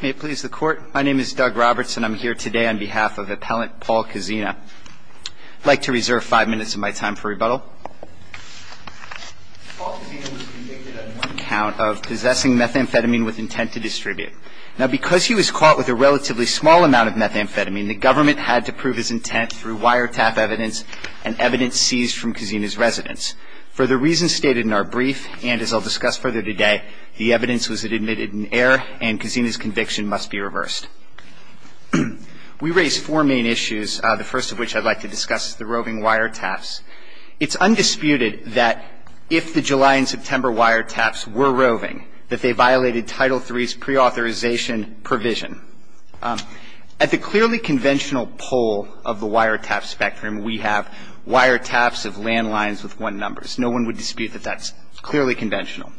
May it please the court, my name is Doug Roberts and I'm here today on behalf of appellant Paul Kozina. I'd like to reserve five minutes of my time for rebuttal. Paul Kozina was convicted on one count of possessing methamphetamine with intent to distribute. Now because he was caught with a relatively small amount of methamphetamine, the government had to prove his intent through wiretap evidence and evidence seized from Kozina's residence. For the reasons stated in our We raise four main issues, the first of which I'd like to discuss is the roving wiretaps. It's undisputed that if the July and September wiretaps were roving, that they violated Title III's preauthorization provision. At the clearly conventional pole of the wiretap spectrum, we have wiretaps of landlines with one numbers. No one would dispute that that's clearly conventional.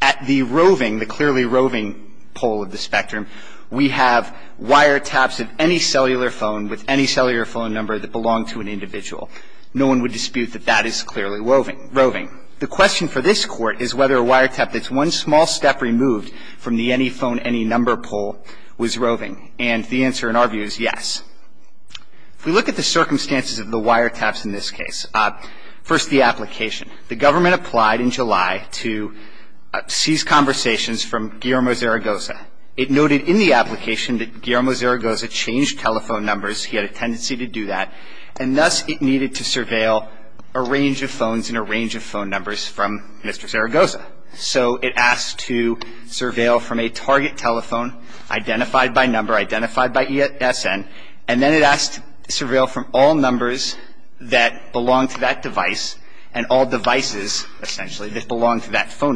At the roving, the clearly roving pole of the spectrum, we have wiretaps of any cellular phone with any cellular phone number that belonged to an individual. No one would dispute that that is clearly roving. The question for this Court is whether a wiretap that's one small step removed from the any phone, any number pole was roving. And the answer in our view is yes. If we look at the circumstances of the wiretaps in this case, first the It noted in the application that Guillermo Zaragoza changed telephone numbers. He had a tendency to do that. And thus it needed to surveil a range of phones and a range of phone numbers from Mr. Zaragoza. So it asked to surveil from a target telephone identified by number, identified by ESN, and then it asked to surveil from all numbers that belonged to that device and all devices, essentially, that the wiretap was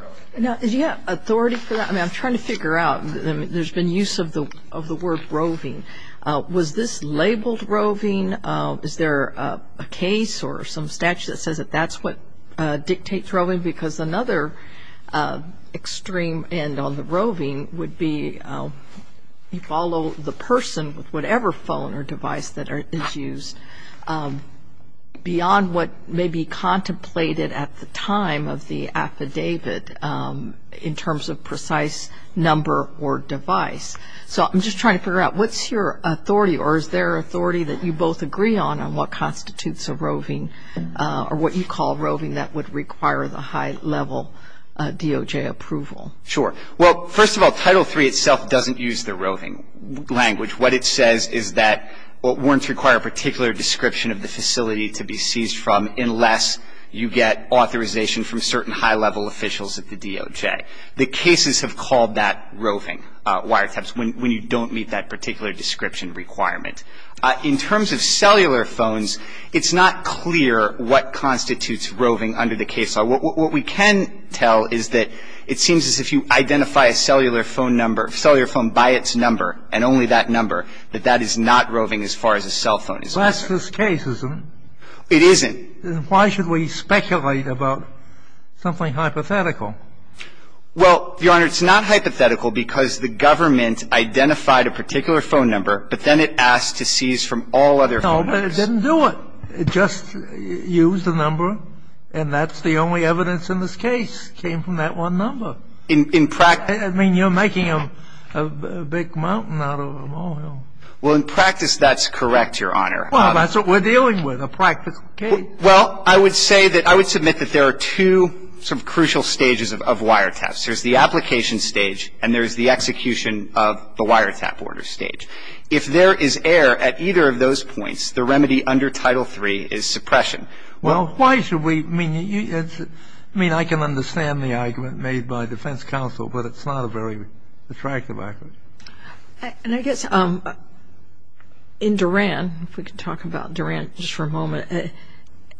roving. Now, do you have authority for that? I mean, I'm trying to figure out. I mean, there's been use of the word roving. Was this labeled roving? Is there a case or some statute that says that that's what dictates roving? Because another extreme end on the roving would be you follow the person with whatever phone or device that is used beyond what may be contemplated at the time of the affidavit in terms of precise number or device. So I'm just trying to figure out what's your authority or is there authority that you both agree on on what constitutes a roving or what you call roving that would require the high-level DOJ approval? Sure. Well, first of all, Title III itself doesn't use the roving language. What it says is that warrants require a particular description of the facility to be seized from unless you get authorization from certain high-level officials at the DOJ. The cases have called that roving wiretaps when you don't meet that particular description requirement. In terms of cellular phones, it's not clear what constitutes roving under the case law. What we can tell is that it seems as if you identify a cellular phone number or cellular phone by its number and only that number, that that is not roving as far as a cell phone is concerned. Well, that's this case, isn't it? It isn't. Then why should we speculate about something hypothetical? Well, Your Honor, it's not hypothetical because the government identified a particular phone number, but then it asked to seize from all other phones. No, but it didn't do it. It just used a number, and that's the only evidence in this case to say that the phone number was roving. And it's not a big mountain out of a moth hole. Well, in practice, that's correct, Your Honor. Well, that's what we're dealing with, a practice case. Well, I would say that I would submit that there are two sort of crucial stages of wiretaps. There's the application stage and there's the execution of the wiretap order stage. If there is error at either of those points, the remedy under Title III is suppression. Well, why should we? I mean, I can understand the argument made by defense counsel, but it's not a very attractive argument. And I guess in Duran, if we could talk about Duran just for a moment, Duran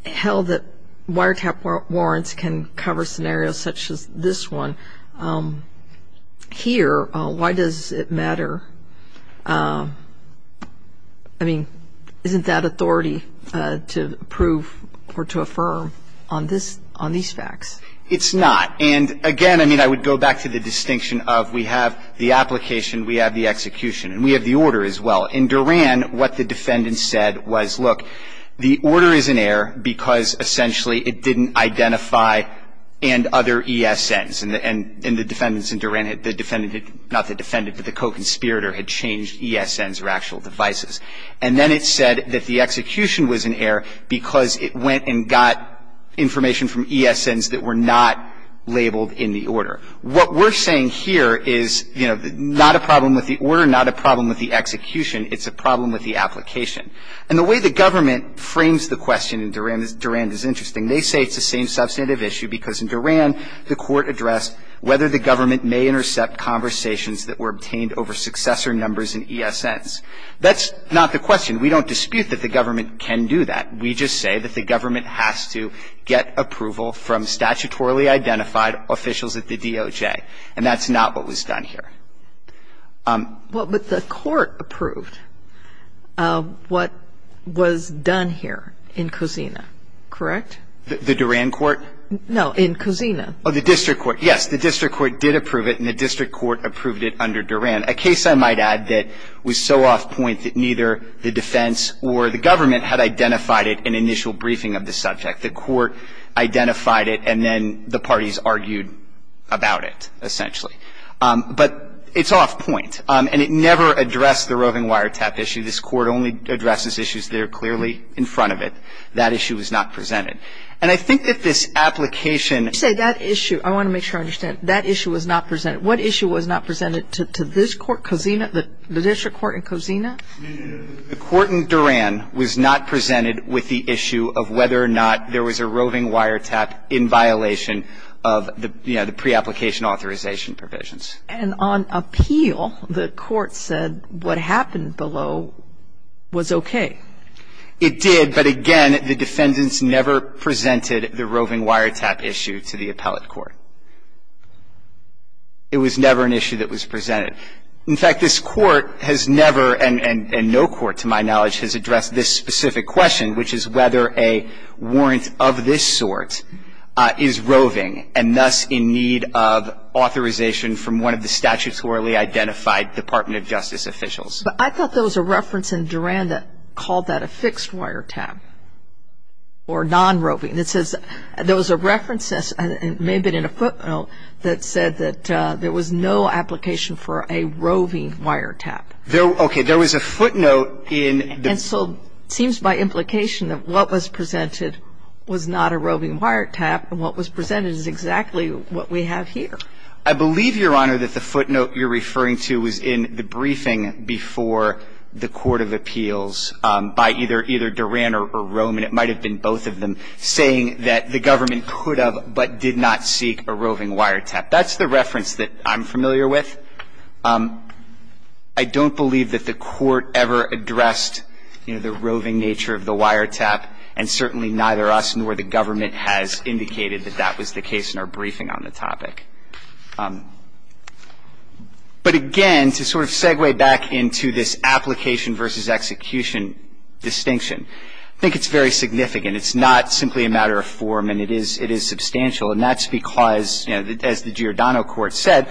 held that wiretap warrants can cover scenarios such as this one. Here, why does it matter? I mean, isn't that authority to prove or to affirm on these facts? It's not. And, again, I mean, I would go back to the distinction of we have the application, we have the execution, and we have the order as well. In Duran, what the defendant said was, look, the order is in error because, essentially, it didn't identify and other ESNs. And the defendants in Duran, the defendant, not the defendant, but the co-conspirator had changed ESNs or actual devices. And then it said that the execution was in error because it went and got information What we're saying here is, you know, not a problem with the order, not a problem with the execution. It's a problem with the application. And the way the government frames the question in Duran is interesting. They say it's the same substantive issue because in Duran, the Court addressed whether the government may intercept conversations that were obtained over successor numbers in ESNs. That's not the question. We don't dispute that the government can do that. We just say that the government has to get approval from statutorily identified officials at the DOJ. And that's not what was done here. But the Court approved what was done here in Kusina, correct? The Duran Court? No, in Kusina. Oh, the District Court. Yes, the District Court did approve it, and the District Court approved it under Duran, a case, I might add, that was so off point that neither the defense or the government had identified it in initial briefing of the subject. The Court identified it, and then the parties argued about it, essentially. But it's off point. And it never addressed the roving wiretap issue. This Court only addresses issues that are clearly in front of it. That issue was not presented. And I think that this application ---- You say that issue. I want to make sure I understand. That issue was not presented. What issue was not presented to this Court, Kusina, the District Court in Kusina? The Court in Duran was not presented with the issue of whether or not there was a roving wiretap in violation of the, you know, the preapplication authorization provisions. And on appeal, the Court said what happened below was okay. It did, but again, the defendants never presented the roving wiretap issue to the appellate court. It was never an issue that was presented. In fact, this Court has never, and no court to my knowledge, has addressed this specific question, which is whether a warrant of this sort is roving and thus in need of authorization from one of the statutorily identified Department of Justice officials. But I thought there was a reference in Duran that called that a fixed wiretap or non-roving. It says there was a reference, and it may have been in a footnote, that said that there was no application for a roving wiretap. Okay. There was a footnote in the ---- And so it seems by implication that what was presented was not a roving wiretap, and what was presented is exactly what we have here. I believe, Your Honor, that the footnote you're referring to was in the briefing before the Court of Appeals by either Duran or Roman. It might have been both of them saying that the government could have but did not seek a roving wiretap. That's the reference that I'm familiar with. I don't believe that the Court ever addressed, you know, the roving nature of the wiretap, and certainly neither us nor the government has indicated that that was the case in our briefing on the topic. But again, to sort of segue back into this application versus execution distinction, I think it's very significant. It's not simply a matter of form, and it is substantial. And that's because, you know, as the Giordano Court said,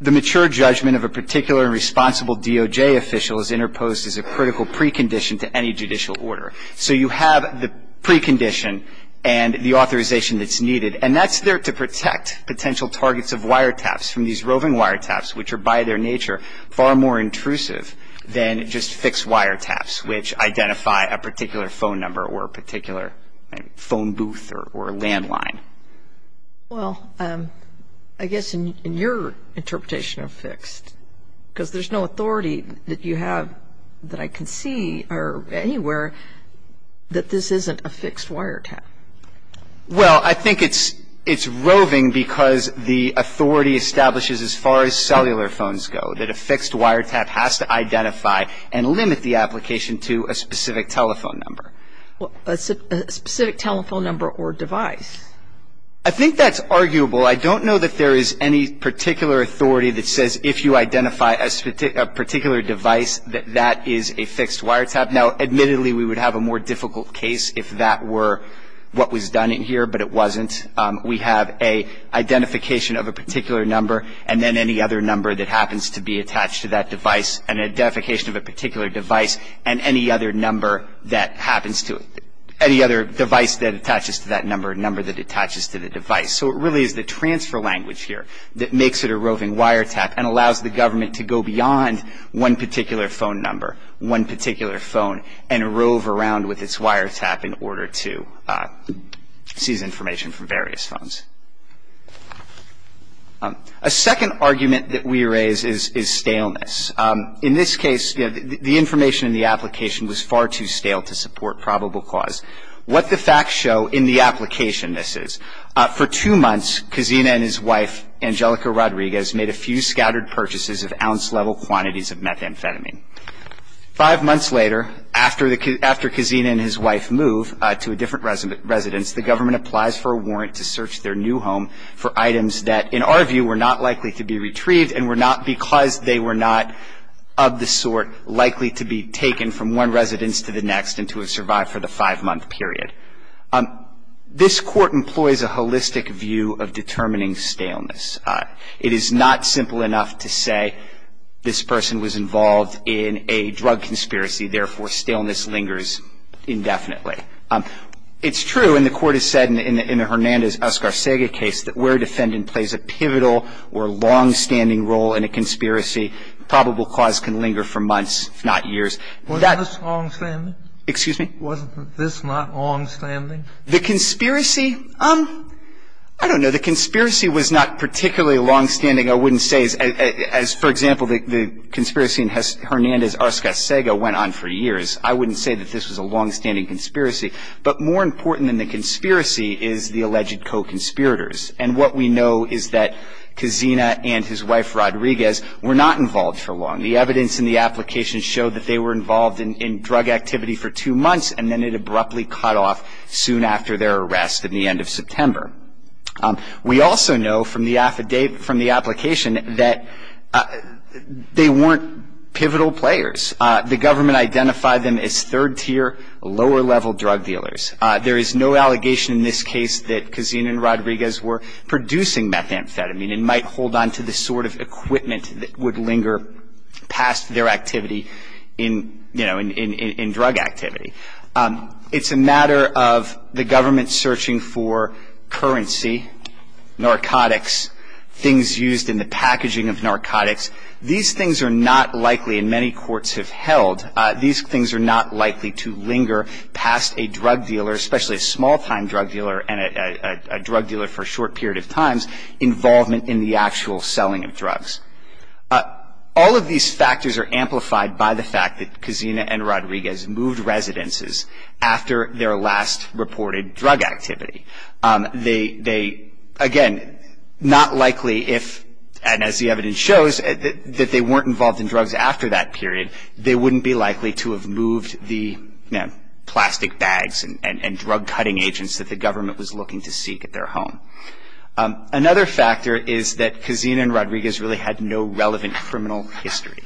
the mature judgment of a particular responsible DOJ official is interposed as a critical precondition to any judicial order. So you have the precondition and the authorization that's needed, and that's there to protect potential targets of wiretaps from these roving wiretaps, which are by their nature far more intrusive than just fixed wiretaps, which identify a particular phone number or a particular phone booth or landline. Well, I guess in your interpretation of fixed, because there's no authority that you have that I can see anywhere that this isn't a fixed wiretap. Well, I think it's roving because the authority establishes as far as cellular phones go, that a fixed wiretap has to identify and limit the application to a specific telephone number. A specific telephone number or device. I think that's arguable. I don't know that there is any particular authority that says if you identify a particular device, that that is a fixed wiretap. Now, admittedly, we would have a more difficult case if that were what was done in here, but it wasn't. We have an identification of a particular number, and then any other number that happens to be attached to that device, an identification of a particular device, and any other number that happens to it. Any other device that attaches to that number, a number that attaches to the device. So it really is the transfer language here that makes it a roving wiretap and allows the government to go beyond one particular phone number, one particular phone, and rove around with its wiretap in order to seize information from various phones. A second argument that we raise is staleness. In this case, the information in the application was far too stale to support probable cause. What the facts show in the application, this is. For two months, Cazina and his wife, Angelica Rodriguez, made a few scattered purchases of ounce-level quantities of methamphetamine. Five months later, after Cazina and his wife move to a different residence, the government applies for a warrant to search their new home for items that, in our view, were not likely to be retrieved and were not because they were not of the sort likely to be taken from one residence to the next and to have survived for the five-month period. This Court employs a holistic view of determining staleness. It is not simple enough to say this person was involved in a drug conspiracy, therefore, staleness lingers indefinitely. It's true, and the Court has said in the Hernandez-Oscar Sega case, that where a defendant plays a pivotal or long-standing role in a conspiracy, probable cause can linger for months, if not years. That ---- Wasn't this long-standing? Excuse me? Wasn't this not long-standing? The conspiracy? I don't know. The conspiracy was not particularly long-standing, I wouldn't say. As, for example, the conspiracy in Hernandez-Oscar Sega went on for years, I wouldn't say that this was a long-standing conspiracy. But more important than the conspiracy is the alleged co-conspirators. And what we know is that Cazina and his wife, Rodriguez, were not involved for long. The evidence in the application showed that they were involved in drug activity for two months, and then it abruptly cut off soon after their arrest at the end of September. We also know from the application that they weren't pivotal players. The government identified them as third-tier, lower-level drug dealers. There is no allegation in this case that Cazina and Rodriguez were producing methamphetamine and might hold on to the sort of equipment that would linger past their activity in, you know, in drug activity. It's a matter of the government searching for currency, narcotics, things used in the packaging of narcotics. These things are not likely, and many courts have held, these things are not likely to linger past a drug dealer, especially a small-time drug dealer and a drug dealer for a short period of time's involvement in the actual selling of drugs. All of these factors are amplified by the fact that Cazina and Rodriguez moved residences after their last reported drug activity. They, again, not likely if, and as the evidence shows, that they weren't involved in drugs after that period, they wouldn't be likely to have moved the, you know, plastic bags and drug-cutting agents that the government was looking to seek at their home. Another factor is that Cazina and Rodriguez really had no relevant criminal history.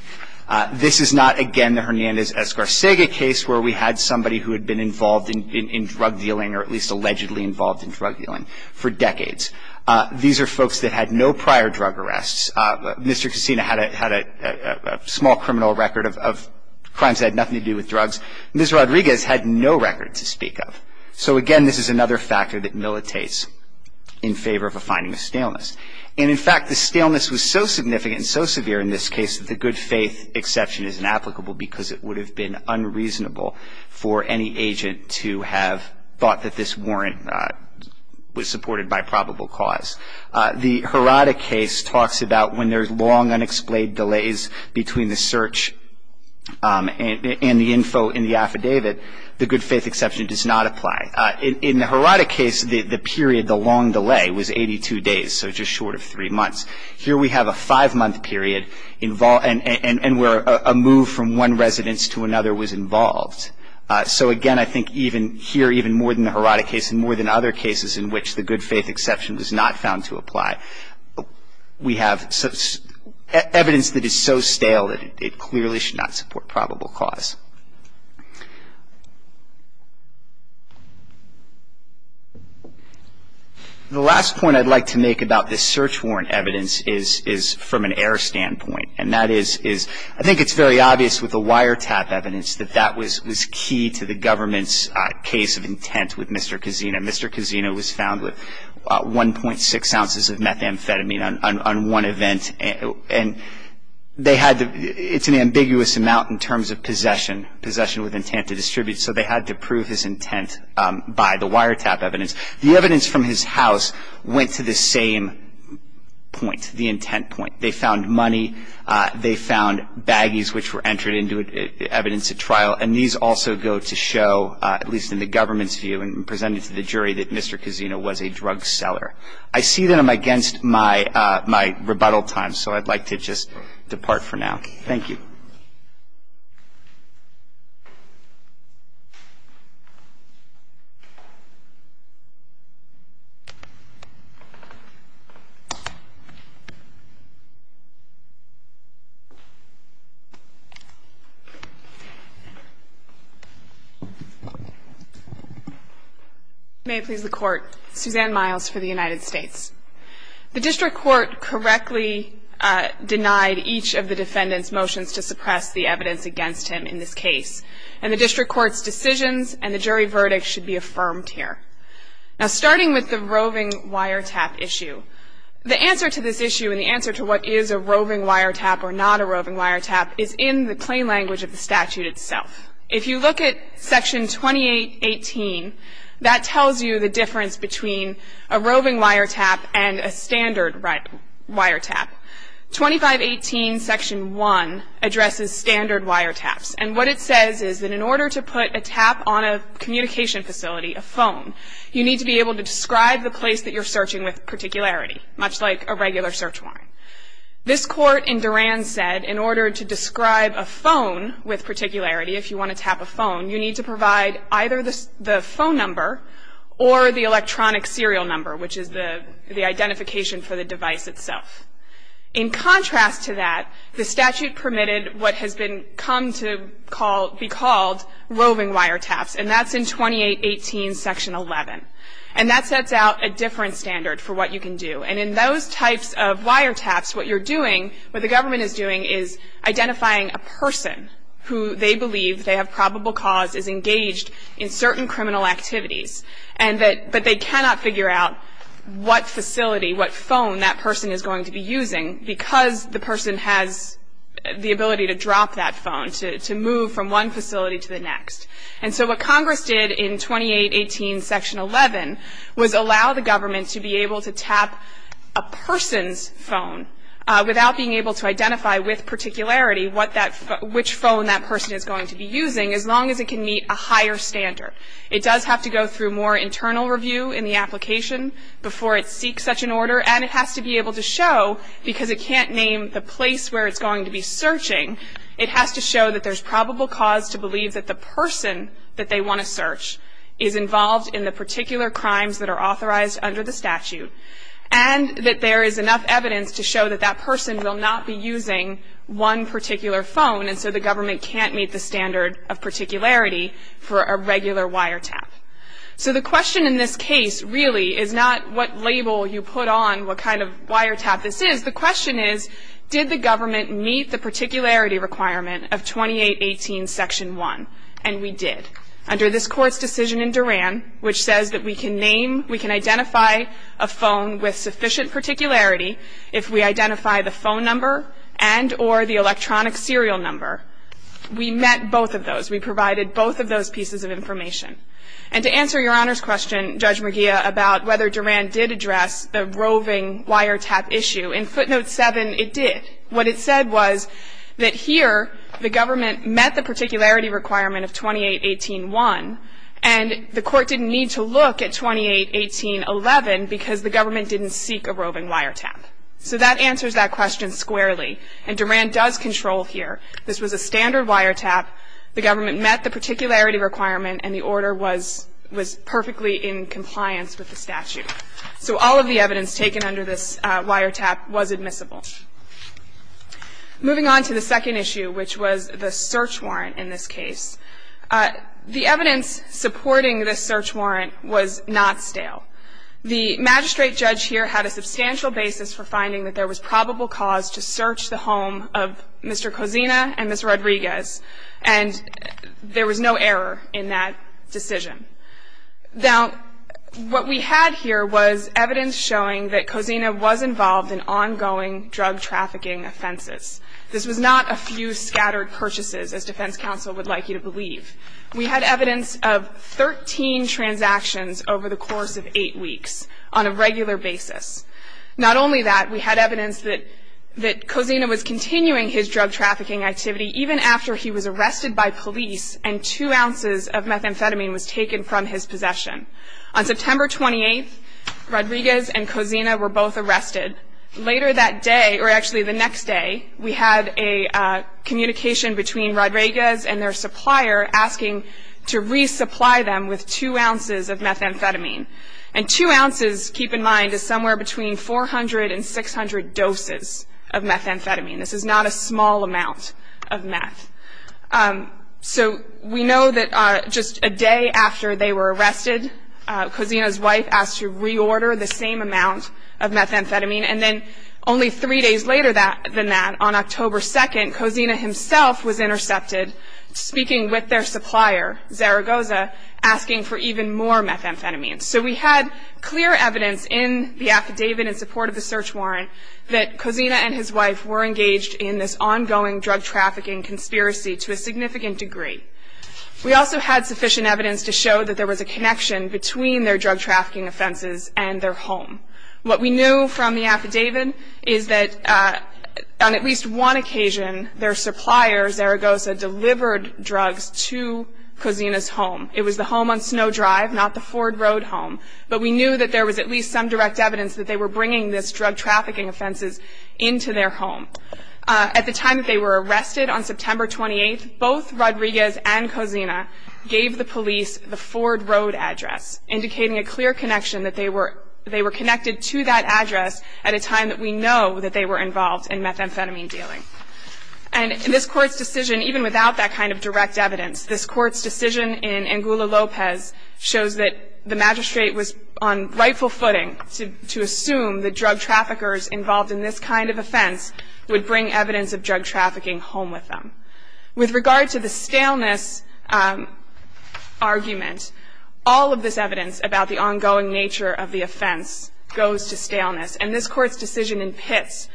This is not, again, the Hernandez-Escarcega case, where we had somebody who had been involved in drug dealing or at least allegedly involved in drug dealing for decades. These are folks that had no prior drug arrests. Mr. Cazina had a small criminal record of crimes that had nothing to do with drugs. Ms. Rodriguez had no record to speak of. So, again, this is another factor that militates in favor of a finding of staleness. And, in fact, the staleness was so significant and so severe in this case that the good-faith exception is inapplicable because it would have been unreasonable for any agent to have thought that this warrant was supported by probable cause. The Herada case talks about when there's long, unexplained delays between the search and the info in the affidavit, the good-faith exception does not apply. In the Herada case, the period, the long delay, was 82 days, so just short of three months. Here we have a five-month period and where a move from one residence to another was involved. So, again, I think even here, even more than the Herada case and more than other cases in which the good-faith exception was not found to apply, we have evidence that is so stale that it clearly should not support probable cause. The last point I'd like to make about this search warrant evidence is from an error standpoint, and that is I think it's very obvious with the wiretap evidence that that was key to the government's case of intent with Mr. Cazino. Mr. Cazino was found with 1.6 ounces of methamphetamine on one event, and it's an ambiguous amount in terms of possession, possession with intent to distribute, so they had to prove his intent by the wiretap evidence. The evidence from his house went to the same point, the intent point. They found money. They found baggies which were entered into evidence at trial, and these also go to show, at least in the government's view and presented to the jury, that Mr. Cazino was a drug seller. I see that I'm against my rebuttal time, so I'd like to just depart for now. Thank you. May it please the Court. Suzanne Miles for the United States. The district court correctly denied each of the defendant's motions to suppress the evidence against him in this case, and the district court's decisions and the jury verdict should be affirmed here. Now, starting with the roving wiretap issue, the answer to this issue and the answer to what is a roving wiretap or not a roving wiretap is in the plain language of the statute itself. If you look at Section 2818, that tells you the difference between a roving wiretap and a standard wiretap. 2518 Section 1 addresses standard wiretaps, and what it says is that in order to put a tap on a communication facility, a phone, you need to be able to describe the place that you're searching with particularity, much like a regular search warrant. This Court in Duran said in order to describe a phone with particularity, if you want to tap a phone, you need to provide either the phone number or the electronic serial number, which is the identification for the device itself. In contrast to that, the statute permitted what has come to be called roving wiretaps, and that's in 2818 Section 11, and that sets out a different standard for what you can do. And in those types of wiretaps, what you're doing, what the government is doing, is identifying a person who they believe they have probable cause is engaged in certain criminal activities, but they cannot figure out what facility, what phone that person is going to be using because the person has the ability to drop that phone, to move from one facility to the next. And so what Congress did in 2818 Section 11 was allow the government to be able to tap a person's phone without being able to identify with particularity which phone that person is going to be using, as long as it can meet a higher standard. It does have to go through more internal review in the application before it seeks such an order, and it has to be able to show, because it can't name the place where it's going to be searching, it has to show that there's probable cause to believe that the person that they want to search is involved in the particular crimes that are authorized under the statute, and that there is enough evidence to show that that person will not be using one particular phone, and so the government can't meet the standard of particularity for a regular wiretap. So the question in this case really is not what label you put on what kind of wiretap this is. The question is, did the government meet the particularity requirement of 2818 Section 1? And we did. Under this Court's decision in Duran, which says that we can name, we can identify a phone with sufficient particularity if we identify the phone number and or the electronic serial number. We met both of those. We provided both of those pieces of information. And to answer Your Honor's question, Judge McGeough, Duran did address the roving wiretap issue. In footnote 7, it did. What it said was that here the government met the particularity requirement of 2818.1, and the Court didn't need to look at 2818.11 because the government didn't seek a roving wiretap. So that answers that question squarely, and Duran does control here. This was a standard wiretap. The government met the particularity requirement, and the order was perfectly in compliance with the statute. So all of the evidence taken under this wiretap was admissible. Moving on to the second issue, which was the search warrant in this case. The evidence supporting this search warrant was not stale. The magistrate judge here had a substantial basis for finding that there was probable cause to search the home of Mr. Cozina and Ms. Rodriguez, and there was no error in that decision. Now, what we had here was evidence showing that Cozina was involved in ongoing drug trafficking offenses. This was not a few scattered purchases, as defense counsel would like you to believe. We had evidence of 13 transactions over the course of eight weeks on a regular basis. Not only that, we had evidence that Cozina was continuing his drug trafficking activity even after he was arrested by police and two ounces of methamphetamine was taken from his possession. On September 28th, Rodriguez and Cozina were both arrested. Later that day, or actually the next day, we had a communication between Rodriguez and their supplier asking to resupply them with two ounces of methamphetamine. And two ounces, keep in mind, is somewhere between 400 and 600 doses of methamphetamine. This is not a small amount of meth. So we know that just a day after they were arrested, Cozina's wife asked to reorder the same amount of methamphetamine. And then only three days later than that, on October 2nd, Cozina himself was intercepted speaking with their supplier, Zaragoza, asking for even more methamphetamine. So we had clear evidence in the affidavit in support of the search warrant that Cozina and his wife were engaged in this ongoing drug trafficking conspiracy to a significant degree. We also had sufficient evidence to show that there was a connection between their drug trafficking offenses and their home. What we knew from the affidavit is that on at least one occasion, their supplier, Zaragoza, delivered drugs to Cozina's home. It was the home on Snow Drive, not the Ford Road home. But we knew that there was at least some direct evidence that they were bringing this drug trafficking offenses into their home. At the time that they were arrested on September 28th, both Rodriguez and Cozina gave the police the Ford Road address, indicating a clear connection that they were connected to that address at a time that we know that they were involved in methamphetamine dealing. And this Court's decision, even without that kind of direct evidence, this Court's decision in Angula Lopez shows that the magistrate was on rightful footing to assume that drug traffickers involved in this kind of offense would bring evidence of drug trafficking home with them. With regard to the staleness argument, all of this evidence about the ongoing nature of the offense goes to staleness. And this Court's decision in Pitts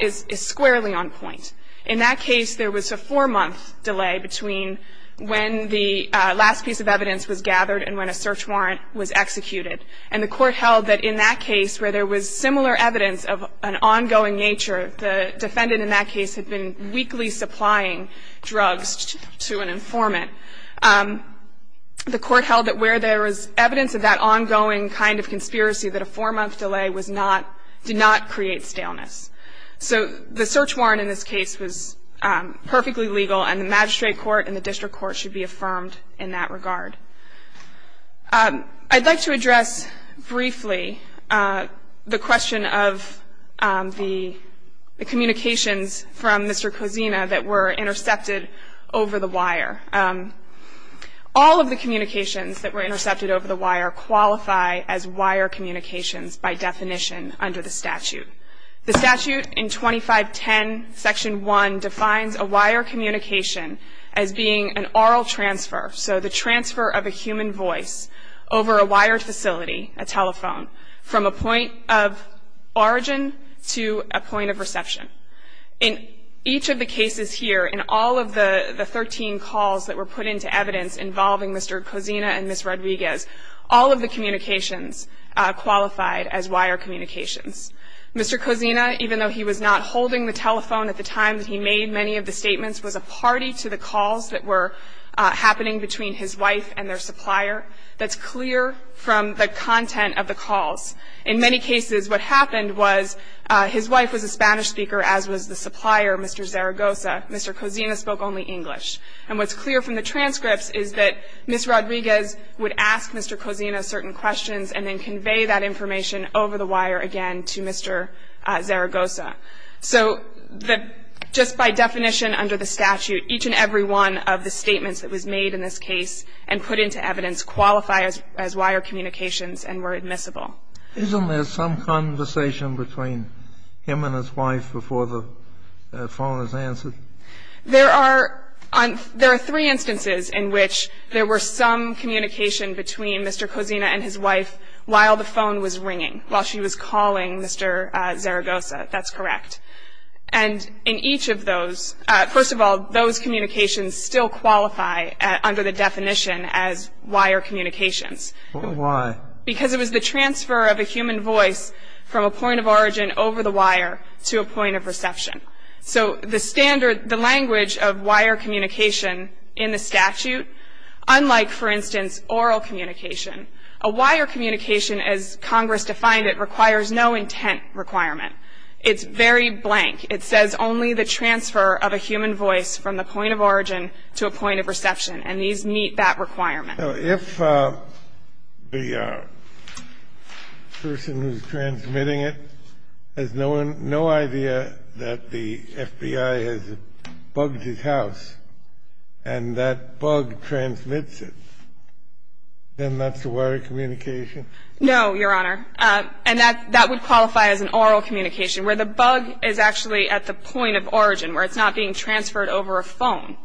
is squarely on point. In that case, there was a four-month delay between when the last piece of evidence was gathered and when a search warrant was executed. And the Court held that in that case, where there was similar evidence of an ongoing nature, the defendant in that case had been weekly supplying drugs to an informant. The Court held that where there was evidence of that ongoing kind of conspiracy, that a four-month delay was not, did not create staleness. So the search warrant in this case was perfectly legal, and the magistrate court and the district court should be affirmed in that regard. I'd like to address briefly the question of the communications from Mr. Cosina that were intercepted over the wire. All of the communications that were intercepted over the wire qualify as wire communications by definition under the statute. The statute in 2510 Section 1 defines a wire communication as being an oral transfer, so the transfer of a human voice over a wired facility, a telephone, from a point of origin to a point of reception. In each of the cases here, in all of the 13 calls that were put into evidence involving Mr. Cosina and Ms. Rodriguez, all of the communications qualified as wire communications. Mr. Cosina, even though he was not holding the telephone at the time that he made many of the statements, was a party to the calls that were happening between his wife and their supplier. That's clear from the content of the calls. In many cases, what happened was his wife was a Spanish speaker, as was the supplier, Mr. Zaragoza. Mr. Cosina spoke only English. And what's clear from the transcripts is that Ms. Rodriguez would ask Mr. Cosina certain questions and then convey that information over the wire again to Mr. Zaragoza. So just by definition under the statute, each and every one of the statements that was made in this case and put into evidence qualify as wire communications and were admissible. Isn't there some conversation between him and his wife before the phone is answered? There are three instances in which there were some communication between Mr. Cosina and his wife while the phone was ringing, while she was calling Mr. Zaragoza. That's correct. And in each of those, first of all, those communications still qualify under the definition as wire communications. Why? Because it was the transfer of a human voice from a point of origin over the wire to a point of reception. So the standard, the language of wire communication in the statute, unlike, for instance, oral communication, a wire communication as Congress defined it requires no intent requirement. It's very blank. It says only the transfer of a human voice from the point of origin to a point of reception, and these meet that requirement. If the person who's transmitting it has no idea that the FBI has bugged his house and that bug transmits it, then that's a wire communication? No, Your Honor. And that would qualify as an oral communication, where the bug is actually at the point of origin where it's not being transferred over a phone.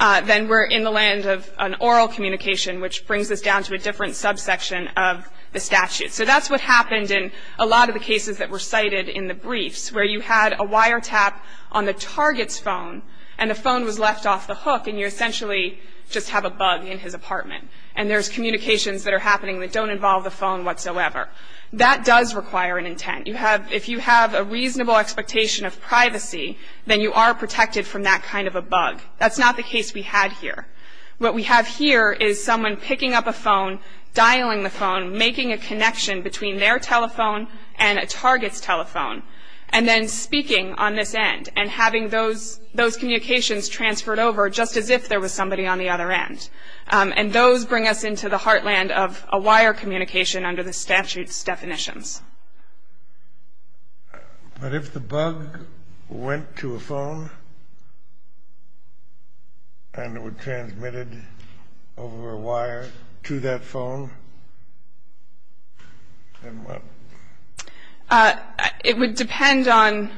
Then we're in the land of an oral communication, which brings us down to a different subsection of the statute. So that's what happened in a lot of the cases that were cited in the briefs, where you had a wire tap on the target's phone, and the phone was left off the hook, and you essentially just have a bug in his apartment. And there's communications that are happening that don't involve the phone whatsoever. That does require an intent. If you have a reasonable expectation of privacy, then you are protected from that kind of a bug. That's not the case we had here. What we have here is someone picking up a phone, dialing the phone, making a connection between their telephone and a target's telephone, and then speaking on this end, and having those communications transferred over just as if there was somebody on the other end. And those bring us into the heartland of a wire communication under the statute's definitions. But if the bug went to a phone and it was transmitted over a wire to that phone, then what? It would depend on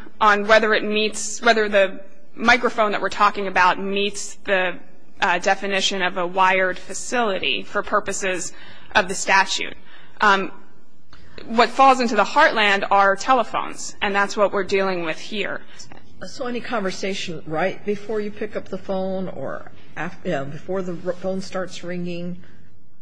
whether the microphone that we're talking about meets the definition of a wired facility for purposes of the statute. What falls into the heartland are telephones, and that's what we're dealing with here. So any conversation right before you pick up the phone, or before the phone starts ringing,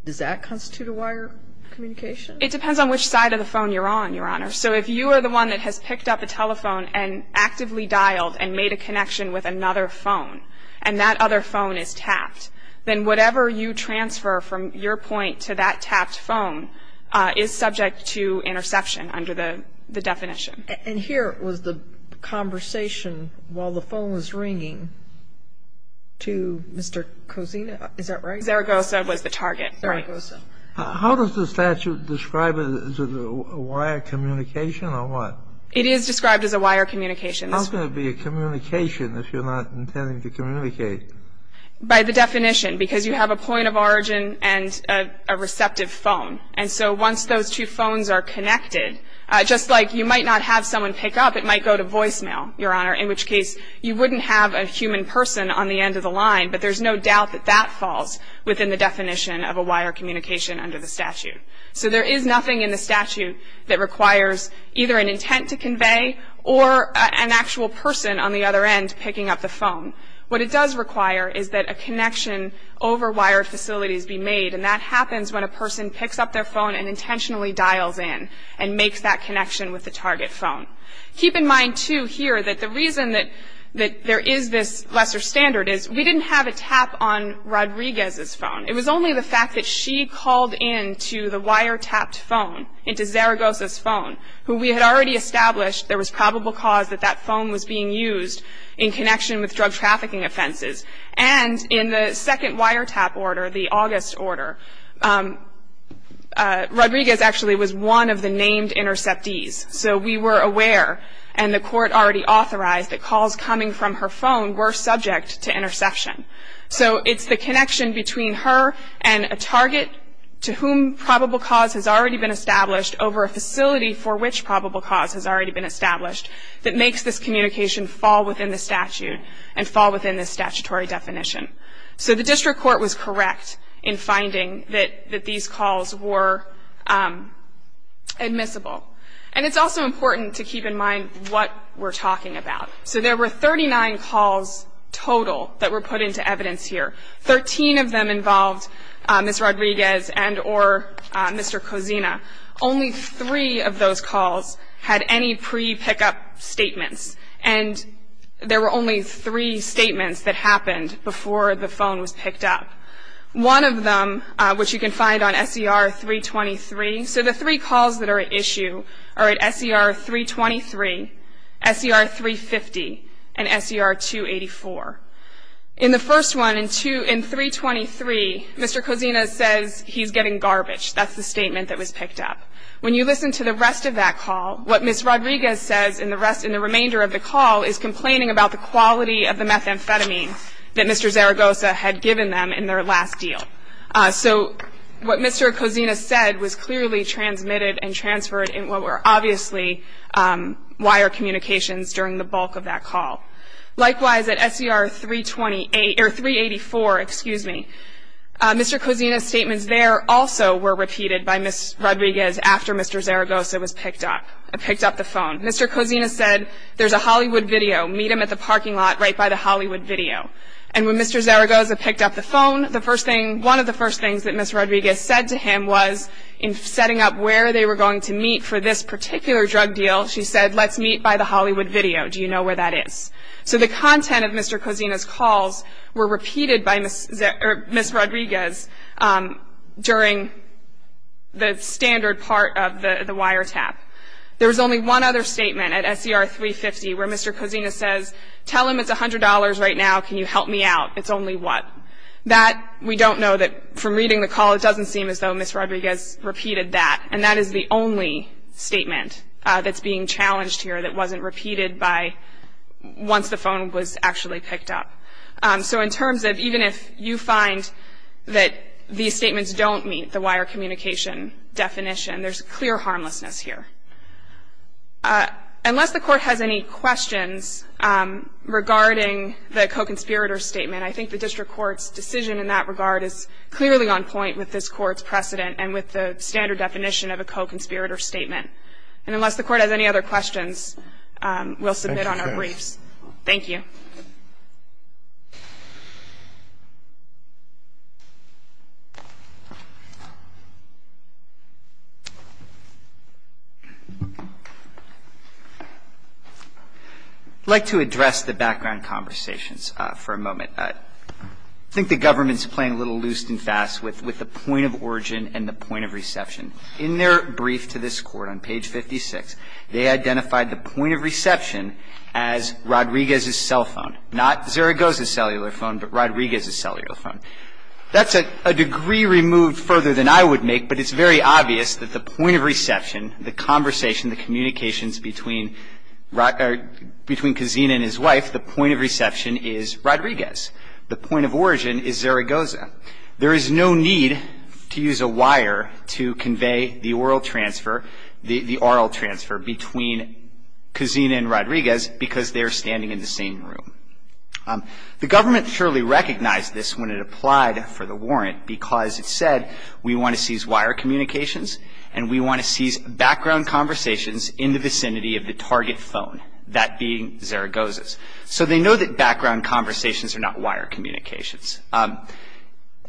does that constitute a wire communication? It depends on which side of the phone you're on, Your Honor. So if you are the one that has picked up a telephone and actively dialed and made a connection with another phone, and that other phone is tapped, then whatever you transfer from your point to that tapped phone is subject to interception under the definition. And here was the conversation while the phone was ringing to Mr. Cosina. Is that right? Zaragoza was the target. Zaragoza. How does the statute describe it? Is it a wire communication or what? It is described as a wire communication. How can it be a communication if you're not intending to communicate? By the definition, because you have a point of origin and a receptive phone. And so once those two phones are connected, just like you might not have someone pick up, it might go to voicemail, Your Honor, in which case you wouldn't have a human person on the end of the line. But there's no doubt that that falls within the definition of a wire communication under the statute. So there is nothing in the statute that requires either an intent to convey or an actual person on the other end picking up the phone. What it does require is that a connection over wire facilities be made, and that happens when a person picks up their phone and intentionally dials in and makes that connection with the target phone. Keep in mind, too, here that the reason that there is this lesser standard is because we didn't have a tap on Rodriguez's phone. It was only the fact that she called in to the wire tapped phone, into Zaragoza's phone, who we had already established there was probable cause that that phone was being used in connection with drug trafficking offenses. And in the second wire tap order, the August order, Rodriguez actually was one of the named interceptees. So we were aware, and the court already authorized, that calls coming from her phone were subject to interception. So it's the connection between her and a target to whom probable cause has already been established over a facility for which probable cause has already been established that makes this communication fall within the statute and fall within the statutory definition. So the district court was correct in finding that these calls were admissible. And it's also important to keep in mind what we're talking about. So there were 39 calls total that were put into evidence here. Thirteen of them involved Ms. Rodriguez and or Mr. Cozina. Only three of those calls had any pre-pickup statements. And there were only three statements that happened before the phone was picked up. One of them, which you can find on SER 323, so the three calls that are at issue are at SER 323, SER 350, and SER 284. In the first one, in 323, Mr. Cozina says he's getting garbage. That's the statement that was picked up. When you listen to the rest of that call, what Ms. Rodriguez says in the remainder of the call is complaining about the quality of the methamphetamine that Mr. Zaragoza had given them in their last deal. So what Mr. Cozina said was clearly transmitted and transferred in what were obviously wire communications during the bulk of that call. Likewise, at SER 384, Mr. Cozina's statements there also were repeated by Ms. Rodriguez after Mr. Zaragoza was picked up, picked up the phone. Mr. Cozina said, there's a Hollywood video. Meet him at the parking lot right by the Hollywood video. And when Mr. Zaragoza picked up the phone, one of the first things that Ms. Rodriguez said to him was, in setting up where they were going to meet for this particular drug deal, she said, let's meet by the Hollywood video. Do you know where that is? So the content of Mr. Cozina's calls were repeated by Ms. Rodriguez during the standard part of the wiretap. There was only one other statement at SER 350 where Mr. Cozina says, tell him it's $100 right now. Can you help me out? It's only what? That we don't know that from reading the call, it doesn't seem as though Ms. Rodriguez repeated that. And that is the only statement that's being challenged here that wasn't repeated by once the phone was actually picked up. So in terms of even if you find that these statements don't meet the wire communication definition, there's clear harmlessness here. Unless the Court has any questions regarding the co-conspirator statement, I think the district court's decision in that regard is clearly on point with this Court's precedent and with the standard definition of a co-conspirator statement. And unless the Court has any other questions, we'll submit on our briefs. Thank you. I'd like to address the background conversations for a moment. I think the government's playing a little loose and fast with the point of origin and the point of reception. In their brief to this Court on page 56, they identified the point of reception Not Zaragoza's cellular phone, but Rodriguez's cellular phone. That's a degree removed further than I would make, but it's very obvious that the point of reception, the conversation, the communications between Kazina and his wife, the point of reception is Rodriguez. The point of origin is Zaragoza. There is no need to use a wire to convey the oral transfer, between Kazina and Rodriguez, because they are standing in the same room. The government surely recognized this when it applied for the warrant, because it said, we want to seize wire communications, and we want to seize background conversations in the vicinity of the target phone, that being Zaragoza's. So they know that background conversations are not wire communications.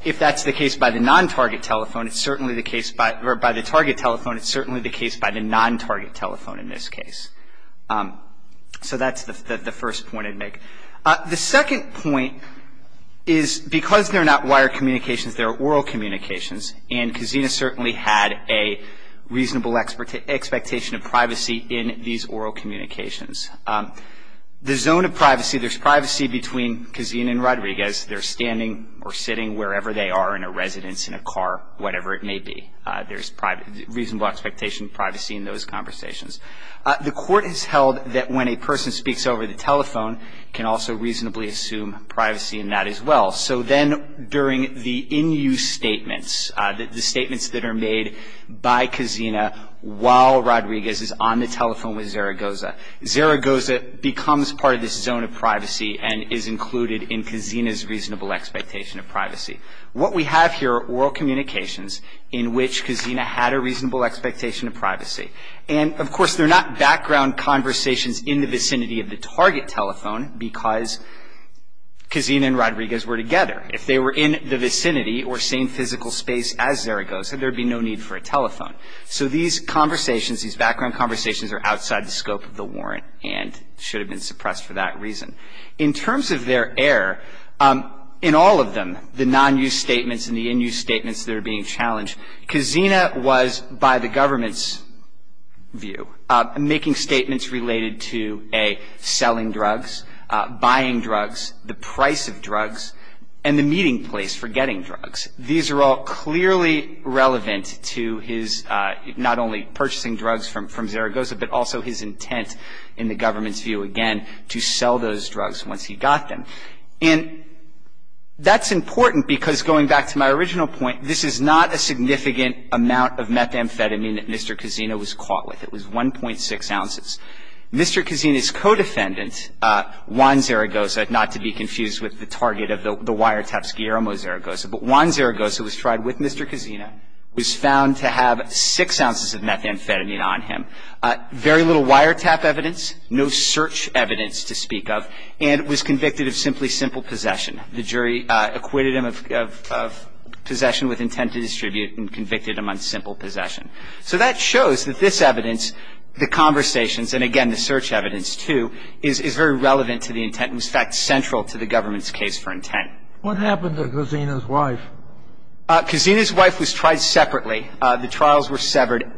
If that's the case by the non-target telephone, it's certainly the case, or by the target telephone, it's certainly the case by the non-target telephone in this case. So that's the first point I'd make. The second point is, because they're not wire communications, they're oral communications, and Kazina certainly had a reasonable expectation of privacy in these oral communications. The zone of privacy, there's privacy between Kazina and Rodriguez. They're standing or sitting wherever they are in a residence, in a car, whatever it may be. There's reasonable expectation of privacy in those conversations. The Court has held that when a person speaks over the telephone, can also reasonably assume privacy in that as well. So then during the in-use statements, the statements that are made by Kazina, while Rodriguez is on the telephone with Zaragoza, Zaragoza becomes part of this zone of privacy and is included in Kazina's reasonable expectation of privacy. What we have here are oral communications in which Kazina had a reasonable expectation of privacy. And, of course, they're not background conversations in the vicinity of the target telephone, because Kazina and Rodriguez were together. If they were in the vicinity or same physical space as Zaragoza, there'd be no need for a telephone. So these conversations, these background conversations are outside the scope of the warrant and should have been suppressed for that reason. In terms of their error, in all of them, the non-use statements and the in-use statements that are being challenged, Kazina was, by the government's view, making statements related to, A, selling drugs, buying drugs, the price of drugs, and the meeting place for getting drugs. These are all clearly relevant to his not only purchasing drugs from Zaragoza, but also his intent, in the government's view, again, to sell those drugs once he got them. And that's important because, going back to my original point, this is not a significant amount of methamphetamine that Mr. Kazina was caught with. It was 1.6 ounces. Mr. Kazina's co-defendant, Juan Zaragoza, not to be confused with the target of the wiretaps, Guillermo Zaragoza, but Juan Zaragoza was tried with Mr. Kazina, was found to have 6 ounces of methamphetamine on him. Very little wiretap evidence, no search evidence to speak of, and was convicted of simply simple possession. The jury acquitted him of possession with intent to distribute and convicted him on simple possession. So that shows that this evidence, the conversations, and, again, the search evidence, too, is very relevant to the intent and, in fact, central to the government's case for intent. What happened to Kazina's wife? Kazina's wife was tried separately. The trials were severed.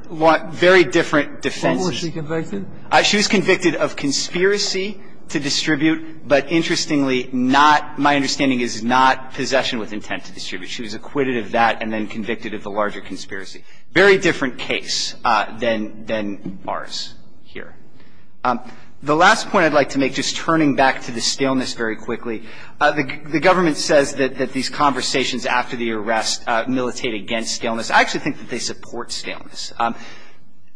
Very different defenses. When was she convicted? She was convicted of conspiracy to distribute, but interestingly not, my understanding is, not possession with intent to distribute. She was acquitted of that and then convicted of the larger conspiracy. Very different case than ours here. The last point I'd like to make, just turning back to the scaleness very quickly, the government says that these conversations after the arrest militate against scaleness. I actually think that they support scaleness.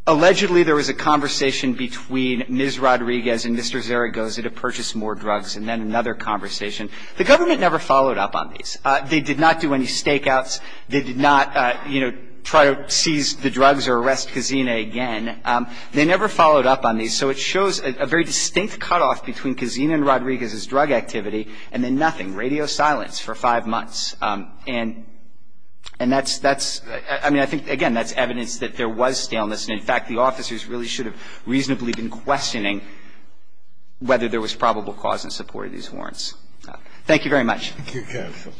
Allegedly, there was a conversation between Ms. Rodriguez and Mr. Zaragoza to purchase more drugs, and then another conversation. The government never followed up on these. They did not do any stakeouts. They did not, you know, try to seize the drugs or arrest Kazina again. They never followed up on these. And so it shows a very distinct cutoff between Kazina and Rodriguez's drug activity and then nothing, radio silence for five months. And that's, I mean, I think, again, that's evidence that there was scaleness. And, in fact, the officers really should have reasonably been questioning whether there was probable cause in support of these warrants. Thank you very much. Thank you, Counsel.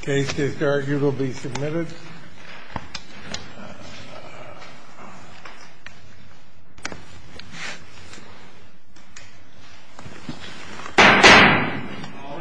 The case is arguably submitted. All rise.